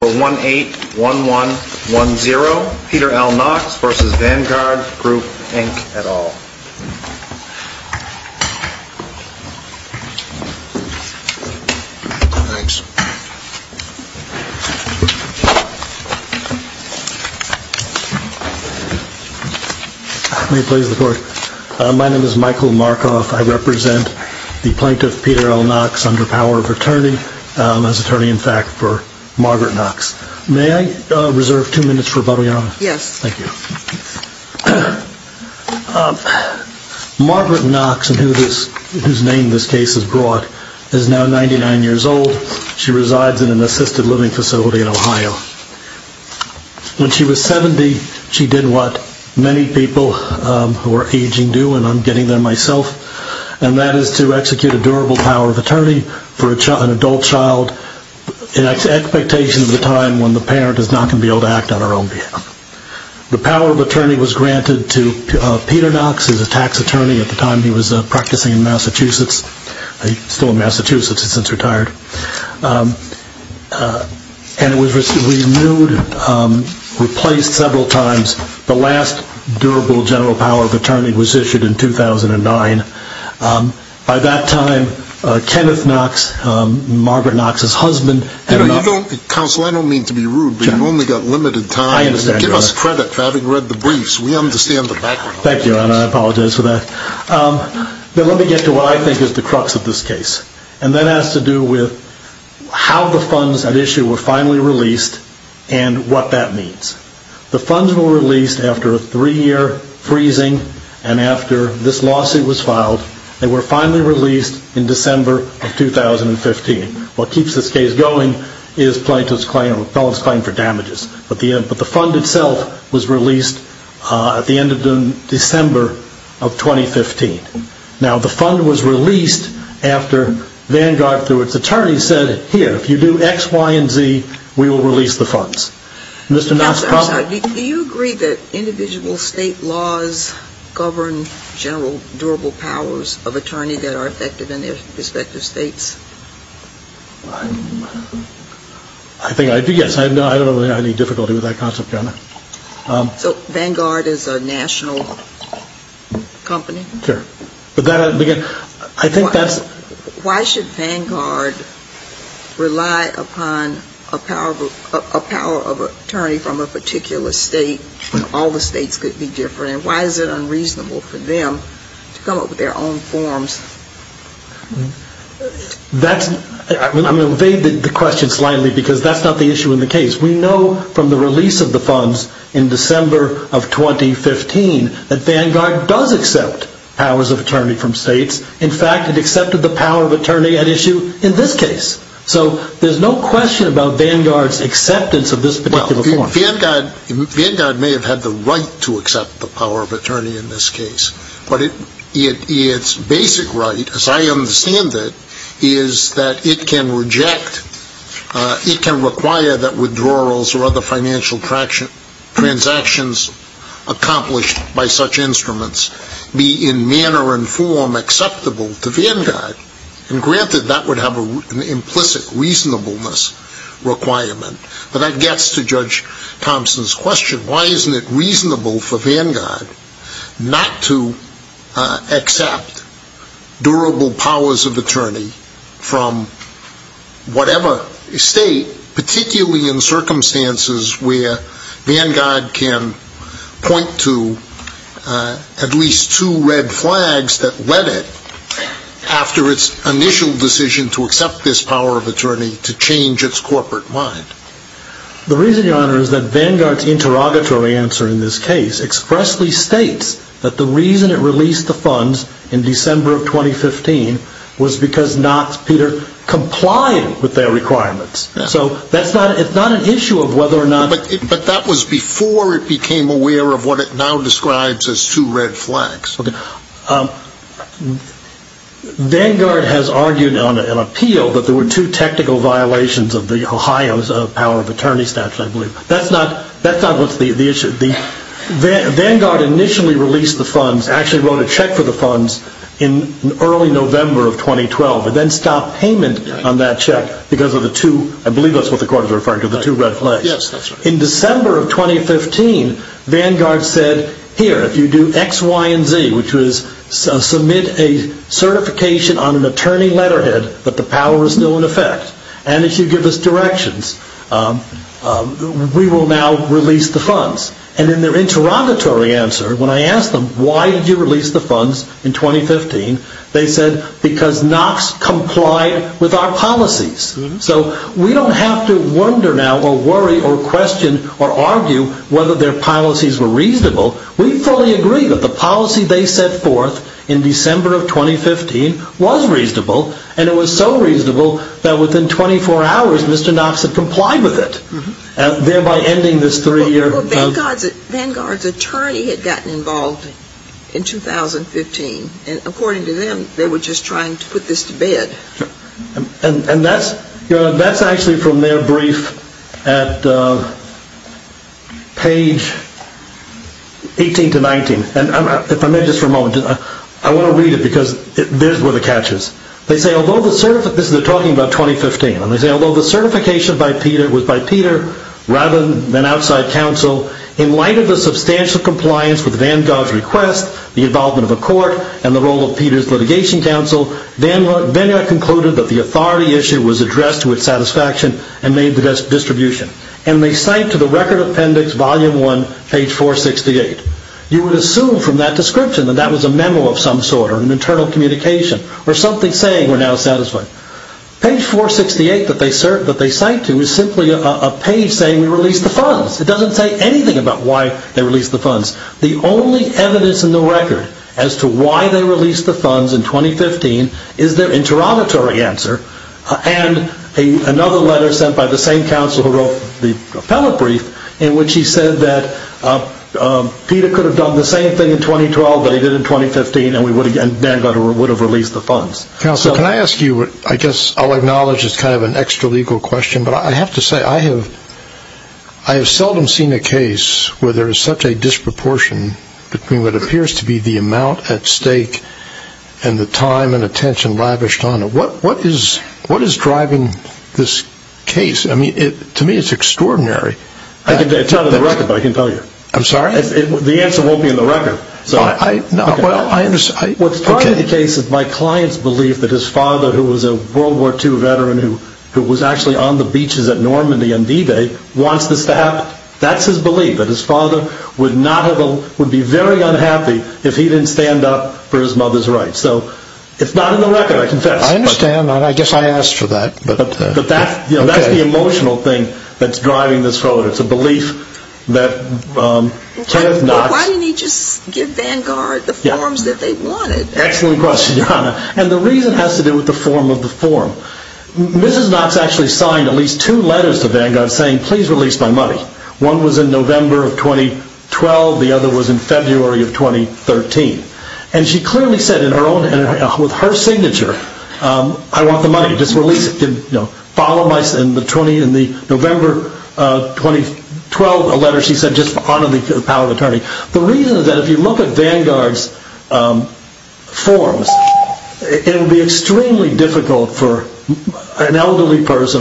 181110, Peter L. Knox v. Vanguard Group, Inc. et al. Thanks. My name is Michael Markoff. I represent the plaintiff, Peter L. Knox, under power of attorney, as attorney-in-fact for Margaret Knox. May I reserve two minutes for a public comment? Yes. Thank you. Margaret Knox, whose name this case has brought, is now 99 years old. She resides in an assisted living facility in Ohio. When she was 70, she did what many people who are aging do, and I'm getting there myself, and that is to execute a durable power of attorney for an adult child in expectation of the time when the parent is not going to be able to act on her own behalf. The power of attorney was granted to Peter Knox as a tax attorney at the time he was practicing in Massachusetts. He's still in Massachusetts. He's since retired. And it was renewed, replaced several times. The last durable general power of attorney was issued in 2009. By that time, Kenneth Knox, Margaret Knox's husband... Counsel, I don't mean to be rude, but you've only got limited time. Give us credit for having read the briefs. We understand the background. Thank you, and I apologize for that. But let me get to what I think is the crux of this case, and that has to do with how the funds at issue were finally released and what that means. The funds were released after a three-year freezing, and after this lawsuit was filed, they were finally released in December of 2015. What keeps this case going is plaintiff's claim for damages, but the fund itself was released at the end of December of 2015. Now, the fund was released after Vanguard, through its attorney, said, here, if you do X, Y, and Z, we will release the funds. Counsel, do you agree that individual state laws govern general durable powers of attorney that are effective in their respective states? I think I do, yes. I don't have any difficulty with that concept. So, Vanguard is a national company? Sure. Why should Vanguard rely upon a power of attorney from a particular state when all the states could be different? Why is it unreasonable for them to come up with their own forms? I'm going to evade the question slightly because that's not the issue in the case. We know from the release of the funds in December of 2015 that Vanguard does accept powers of attorney from states. In fact, it accepted the power of attorney at issue in this case. So, there's no question about Vanguard's acceptance of this particular form. Vanguard may have had the right to accept the power of attorney in this case. But its basic right, as I understand it, is that it can require that withdrawals or other financial transactions accomplished by such instruments be in manner and form acceptable to Vanguard. And granted, that would have an implicit reasonableness requirement. But that gets to Judge Thompson's question. Why isn't it reasonable for Vanguard not to accept durable powers of attorney from whatever state, particularly in circumstances where Vanguard can point to at least two red flags that led it, after its initial decision to accept this power of attorney, to change its corporate mind? The reason, Your Honor, is that Vanguard's interrogatory answer in this case expressly states that the reason it released the funds in December of 2015 was because not, Peter, complying with their requirements. So, it's not an issue of whether or not... But that was before it became aware of what it now describes as two red flags. Vanguard has argued on an appeal that there were two technical violations of the Ohio's power of attorney statute, I believe. That's not the issue. Vanguard initially released the funds, actually wrote a check for the funds in early November of 2012, and then stopped payment on that check because of the two, I believe that's what the court is referring to, the two red flags. In December of 2015, Vanguard said, here, if you do X, Y, and Z, which was submit a certification on an attorney letterhead that the power is still in effect, and if you give us directions, we will now release the funds. And in their interrogatory answer, when I asked them, why did you release the funds in 2015? They said, because Knox complied with our policies. So, we don't have to wonder now or worry or question or argue whether their policies were reasonable. We fully agree that the policy they set forth in December of 2015 was reasonable, and it was so reasonable that within 24 hours, Mr. Knox had complied with it, thereby ending this three-year... Vanguard's attorney had gotten involved in 2015, and according to them, they were just trying to put this to bed. And that's actually from their brief at page 18 to 19. And if I may just for a moment, I want to read it because there's where the catch is. They say, although the certification by Peter was by Peter rather than outside counsel, in light of the substantial compliance with Vanguard's request, the involvement of the court, and the role of Peter's litigation counsel, Vanguard concluded that the authority issue was addressed to its satisfaction and made the best distribution. And they cite to the record appendix, volume 1, page 468. You would assume from that description that that was a memo of some sort or an internal communication or something saying we're now satisfied. Page 468 that they cite to is simply a page saying we released the funds. It doesn't say anything about why they released the funds. The only evidence in the record as to why they released the funds in 2015 is their interrogatory answer and another letter sent by the same counsel who wrote the appellate brief in which he said that Peter could have done the same thing in 2012 that he did in 2015 and Vanguard would have released the funds. Counsel, can I ask you, I guess I'll acknowledge it's kind of an extralegal question, but I have to say I have seldom seen a case where there is such a disproportion between what appears to be the amount at stake and the time and attention lavished on it. What is driving this case? I mean, to me it's extraordinary. I can tell you on the record, but I can't tell you. I'm sorry? The answer won't be in the record. What's part of the case is my client's belief that his father, who was a World War II veteran who was actually on the beaches at Normandy on D-Day, wants this to happen. That's his belief, that his father would be very unhappy if he didn't stand up for his mother's rights. So it's not in the record, I confess. I understand. I guess I asked for that. But that's the emotional thing that's driving this forward. Why didn't he just give Vanguard the forms that they wanted? Excellent question, Your Honor. And the reason has to do with the form of the form. Mrs. Knox actually signed at least two letters to Vanguard saying, please release my money. One was in November of 2012. The other was in February of 2013. And she clearly said in her own, with her signature, I want the money. Just release it. Follow my, in the November 2012 letter, she said just honor the power of attorney. The reason is that if you look at Vanguard's forms, it would be extremely difficult for an elderly person.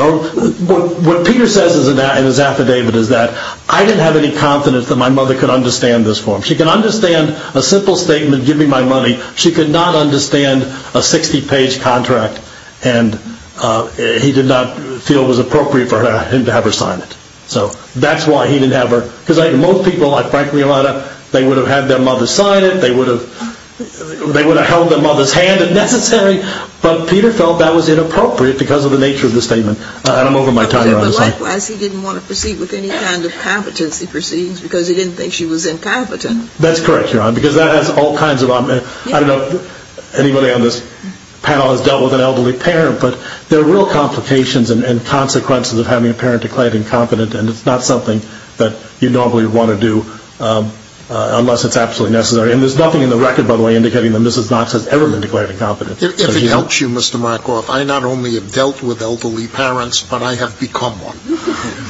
What Peter says in his affidavit is that I didn't have any confidence that my mother could understand this form. She could understand a simple statement, give me my money. She could not understand a 60-page contract. And he did not feel it was appropriate for him to have her sign it. So that's why he didn't have her. Because most people, frankly, they would have had their mother sign it. They would have held their mother's hand if necessary. But Peter felt that was inappropriate because of the nature of the statement. And I'm over my time, Your Honor. But likewise, he didn't want to proceed with any kind of competency proceedings because he didn't think she was incompetent. That's correct, Your Honor, because that has all kinds of, I don't know if anybody on this panel has dealt with an elderly parent. But there are real complications and consequences of having a parent declared incompetent. And it's not something that you normally want to do unless it's absolutely necessary. And there's nothing in the record, by the way, indicating that Mrs. Knox has ever been declared incompetent. If it helps you, Mr. Markoff, I not only have dealt with elderly parents, but I have become one.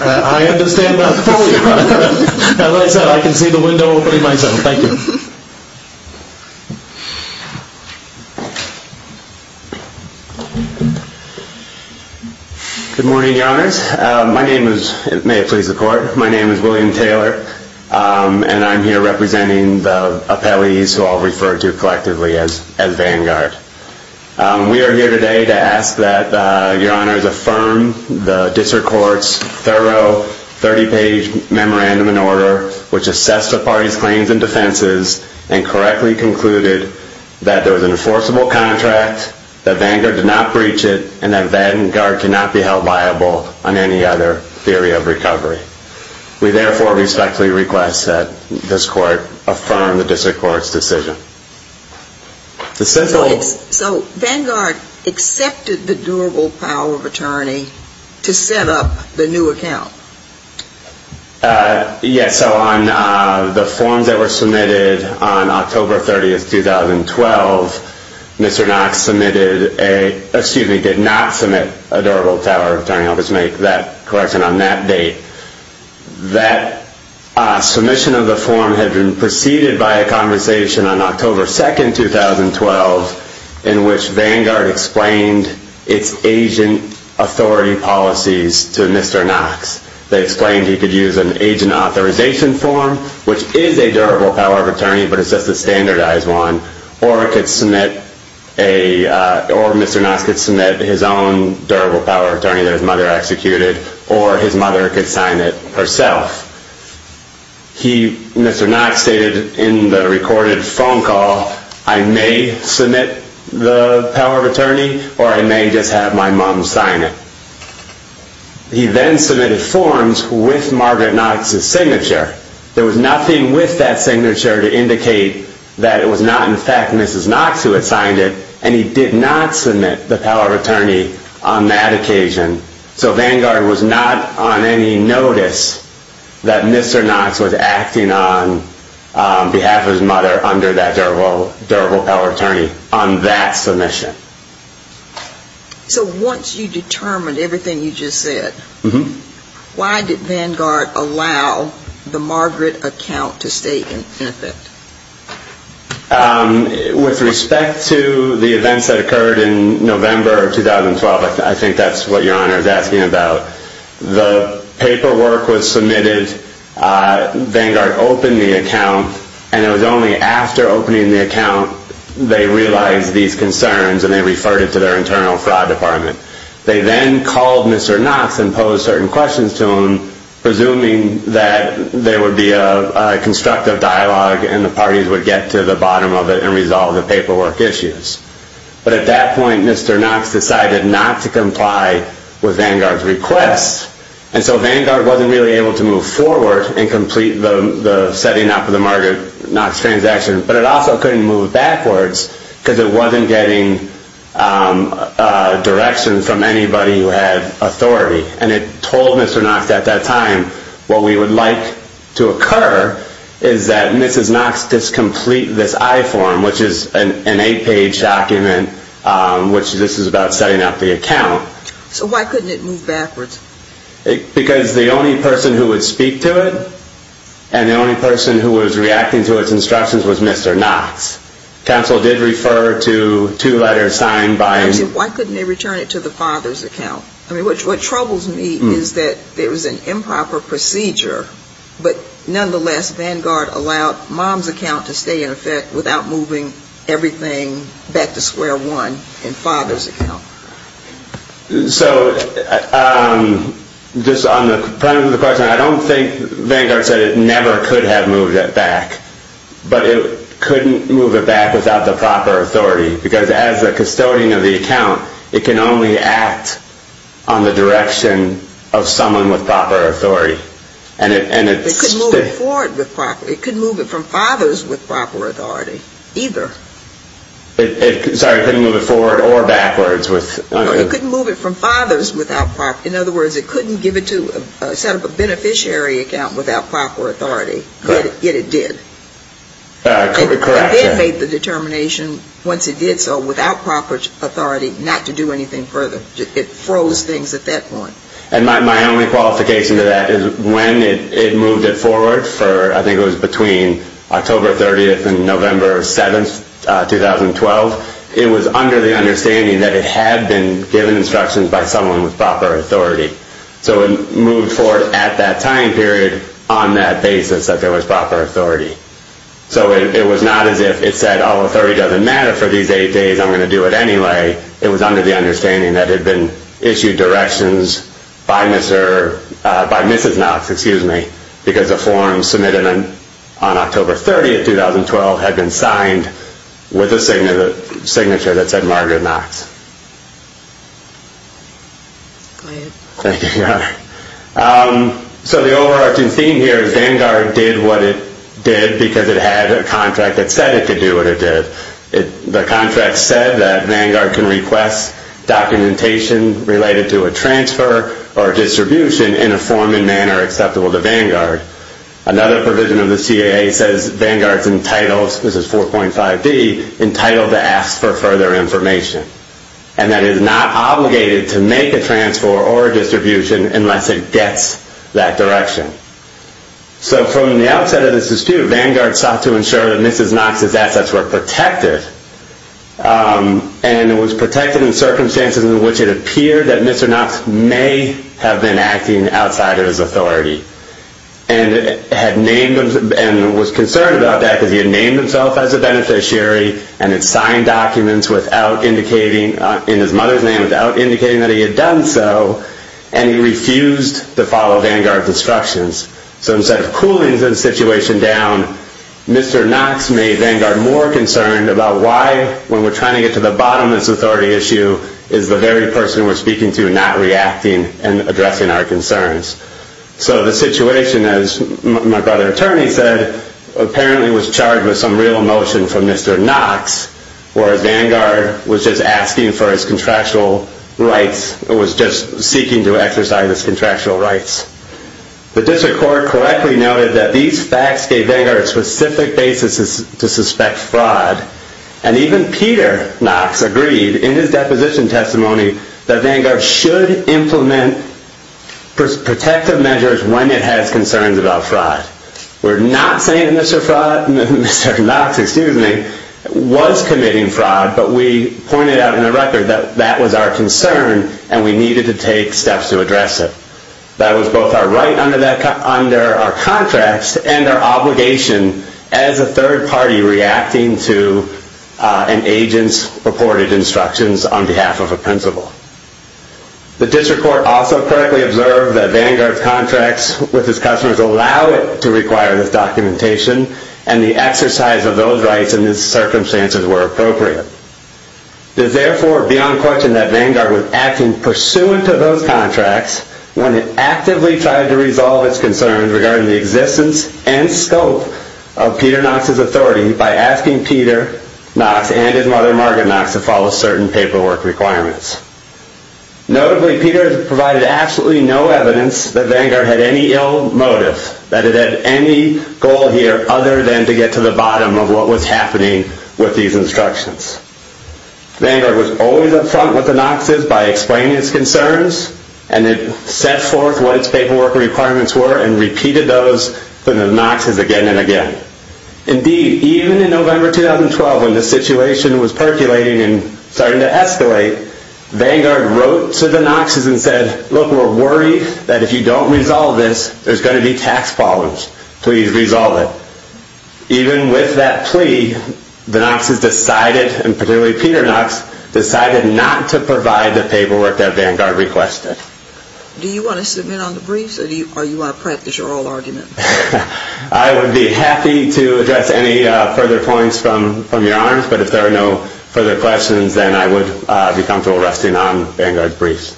I understand that fully. As I said, I can see the window opening myself. Thank you. Good morning, Your Honors. My name is, may it please the Court, my name is William Taylor. And I'm here representing the appellees who I'll refer to collectively as Vanguard. We are here today to ask that Your Honors affirm the District Court's thorough 30-page memorandum and order, which assessed the parties' claims and defenses and correctly concluded that there was an enforceable contract, that Vanguard did not breach it, and that Vanguard cannot be held liable on any other theory of recovery. We therefore respectfully request that this Court affirm the District Court's decision. So Vanguard accepted the durable power of attorney to set up the new account? Yes. So on the forms that were submitted on October 30, 2012, Mr. Knox submitted a, or excuse me, did not submit a durable power of attorney. I'll just make that correction on that date. That submission of the form had been preceded by a conversation on October 2, 2012, in which Vanguard explained its agent authority policies to Mr. Knox. They explained he could use an agent authorization form, which is a durable power of attorney, but it's just a standardized one, or it could submit a, or Mr. Knox could submit his own durable power of attorney that his mother executed, or his mother could sign it herself. He, Mr. Knox, stated in the recorded phone call, I may submit the power of attorney, or I may just have my mom sign it. He then submitted forms with Margaret Knox's signature. There was nothing with that signature to indicate that it was not in fact Mrs. Knox who had signed it, and he did not submit the power of attorney on that occasion. So Vanguard was not on any notice that Mr. Knox was acting on behalf of his mother under that durable power of attorney on that submission. So once you determined everything you just said, why did Vanguard allow the Margaret account to stay in effect? With respect to the events that occurred in November of 2012, I think that's what Your Honor is asking about. The paperwork was submitted, Vanguard opened the account, and it was only after opening the account they realized these concerns and they referred it to their internal fraud department. They then called Mr. Knox and posed certain questions to him, presuming that there would be a constructive dialogue and the parties would get to the bottom of it and resolve the paperwork issues. But at that point, Mr. Knox decided not to comply with Vanguard's request, and so Vanguard wasn't really able to move forward and complete the setting up of the Margaret Knox transaction, but it also couldn't move backwards because it wasn't getting direction from anybody who had authority. And it told Mr. Knox at that time what we would like to occur is that Mrs. Knox discomplete this I-form, which is an eight-page document, which this is about setting up the account. So why couldn't it move backwards? Because the only person who would speak to it and the only person who was reacting to its instructions was Mr. Knox. Counsel did refer to two letters signed by... Why couldn't they return it to the father's account? I mean, what troubles me is that there was an improper procedure, but nonetheless Vanguard allowed mom's account to stay in effect without moving everything back to square one in father's account. So just on the premise of the question, I don't think Vanguard said it never could have moved it back, but it couldn't move it back without the proper authority because as a custodian of the account, it can only act on the direction of someone with proper authority. It couldn't move it forward with proper... It couldn't move it from father's with proper authority either. Sorry, it couldn't move it forward or backwards with... It couldn't move it from father's without proper... In other words, it couldn't set up a beneficiary account without proper authority, yet it did. Correct. It did make the determination once it did so without proper authority not to do anything further. It froze things at that point. And my only qualification to that is when it moved it forward for... It was under the understanding that it had been given instructions by someone with proper authority. So it moved forward at that time period on that basis that there was proper authority. So it was not as if it said, all authority doesn't matter for these eight days, I'm going to do it anyway. It was under the understanding that had been issued directions by Mrs. Knox, because a form submitted on October 30th, 2012 had been signed with a signature that said Margaret Knox. So the overarching theme here is Vanguard did what it did because it had a contract that said it could do what it did. The contract said that Vanguard can request documentation related to a transfer or distribution in a form and manner acceptable to Vanguard. Another provision of the CAA says Vanguard's entitled, this is 4.5D, entitled to ask for further information. And that it is not obligated to make a transfer or distribution unless it gets that direction. So from the outset of this dispute, Vanguard sought to ensure that Mrs. Knox's assets were protected. And it was protected in circumstances in which it appeared that Mr. Knox may have been acting outside of his authority. And was concerned about that because he had named himself as a beneficiary and had signed documents in his mother's name without indicating that he had done so. And he refused to follow Vanguard's instructions. So instead of cooling the situation down, Mr. Knox made Vanguard more concerned about why when we're trying to get to the bottom of this authority issue is the very person we're speaking to not reacting and addressing our concerns. So the situation, as my brother attorney said, apparently was charged with some real emotion from Mr. Knox where Vanguard was just asking for his contractual rights, or was just seeking to exercise his contractual rights. The district court correctly noted that these facts gave Vanguard a specific basis to suspect fraud. And even Peter Knox agreed in his deposition testimony that Vanguard should implement protective measures when it has concerns about fraud. We're not saying that Mr. Knox was committing fraud, but we pointed out in the record that that was our concern and we needed to take steps to address it. That was both our right under our contracts and our obligation as a third party reacting to an agent's purported instructions on behalf of a principal. The district court also correctly observed that Vanguard's contracts with its customers allow it to require this documentation and the exercise of those rights in these circumstances were appropriate. It is therefore beyond question that Vanguard was acting pursuant to those contracts when it actively tried to resolve its concerns regarding the existence and scope of Peter Knox's authority by asking Peter Knox and his mother Margaret Knox to follow certain paperwork requirements. Notably, Peter provided absolutely no evidence that Vanguard had any ill motive, that it had any goal here other than to get to the bottom of what was happening with these instructions. Vanguard was always up front with the Knox's by explaining its concerns and it set forth what its paperwork requirements were and repeated those to the Knox's again and again. Indeed, even in November 2012, when the situation was percolating and starting to escalate, Vanguard wrote to the Knox's and said, look, we're worried that if you don't resolve this, there's going to be tax problems. Please resolve it. Even with that plea, the Knox's decided, and particularly Peter Knox, decided not to provide the paperwork that Vanguard requested. Do you want to submit on the briefs or do you want to practice your oral argument? I would be happy to address any further points from your arms, but if there are no further questions, then I would be comfortable resting on Vanguard's briefs.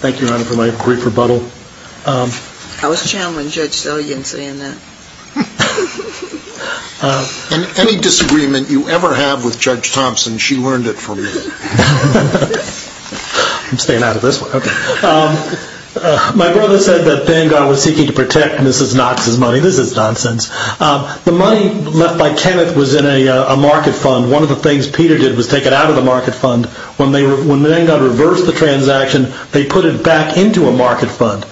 Thank you, Your Honor, for my brief rebuttal. How was Chandler and Judge Sullyan saying that? In any disagreement you ever have with Judge Thompson, she learned it from you. I'm staying out of this one. My brother said that Vanguard was seeking to protect Mrs. Knox's money. This is nonsense. The money left by Kenneth was in a market fund. One of the things Peter did was take it out of the market fund. When Vanguard reversed the transaction, they put it back into a market fund.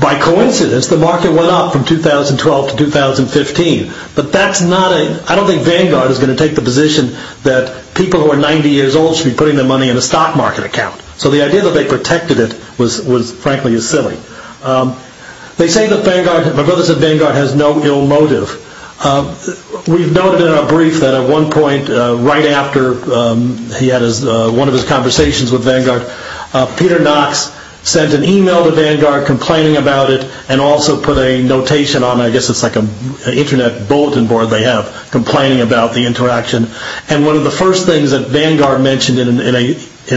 By coincidence, the market went up from 2012 to 2015. I don't think Vanguard is going to take the position that people who are 90 years old should be putting their money in a stock market account. The idea that they protected it was, frankly, silly. They say that Vanguard has no ill motive. We've noted in our brief that at one point, right after he had one of his conversations with Vanguard, Peter Knox sent an email to Vanguard complaining about it and also put a notation on, I guess it's like an internet bulletin board they have, complaining about the interaction. One of the first things that Vanguard mentioned in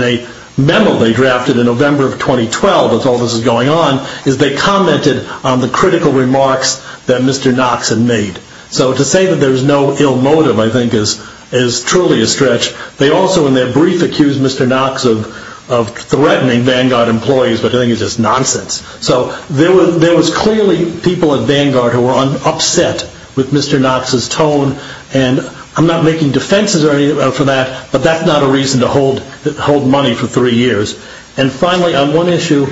a memo they drafted in November of 2012, as all this is going on, is they commented on the critical remarks that Mr. Knox had made. To say that there's no ill motive, I think, is truly a stretch. They also, in their brief, accused Mr. Knox of threatening Vanguard employees, but I think it's just nonsense. There was clearly people at Vanguard who were upset with Mr. Knox's tone. I'm not making defenses for that, but that's not a reason to hold money for three years. Finally, on one issue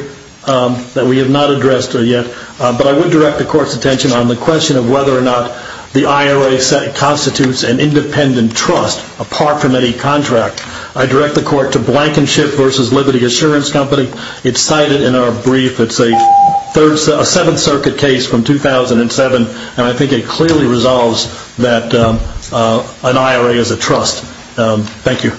that we have not addressed yet, but I would direct the Court's attention on the question of whether or not the IRA constitutes an independent trust, apart from any contract. I direct the Court to Blankenship v. Liberty Assurance Company. It's cited in our brief. It's a Seventh Circuit case from 2007, and I think it clearly resolves that an IRA is a trust. Thank you.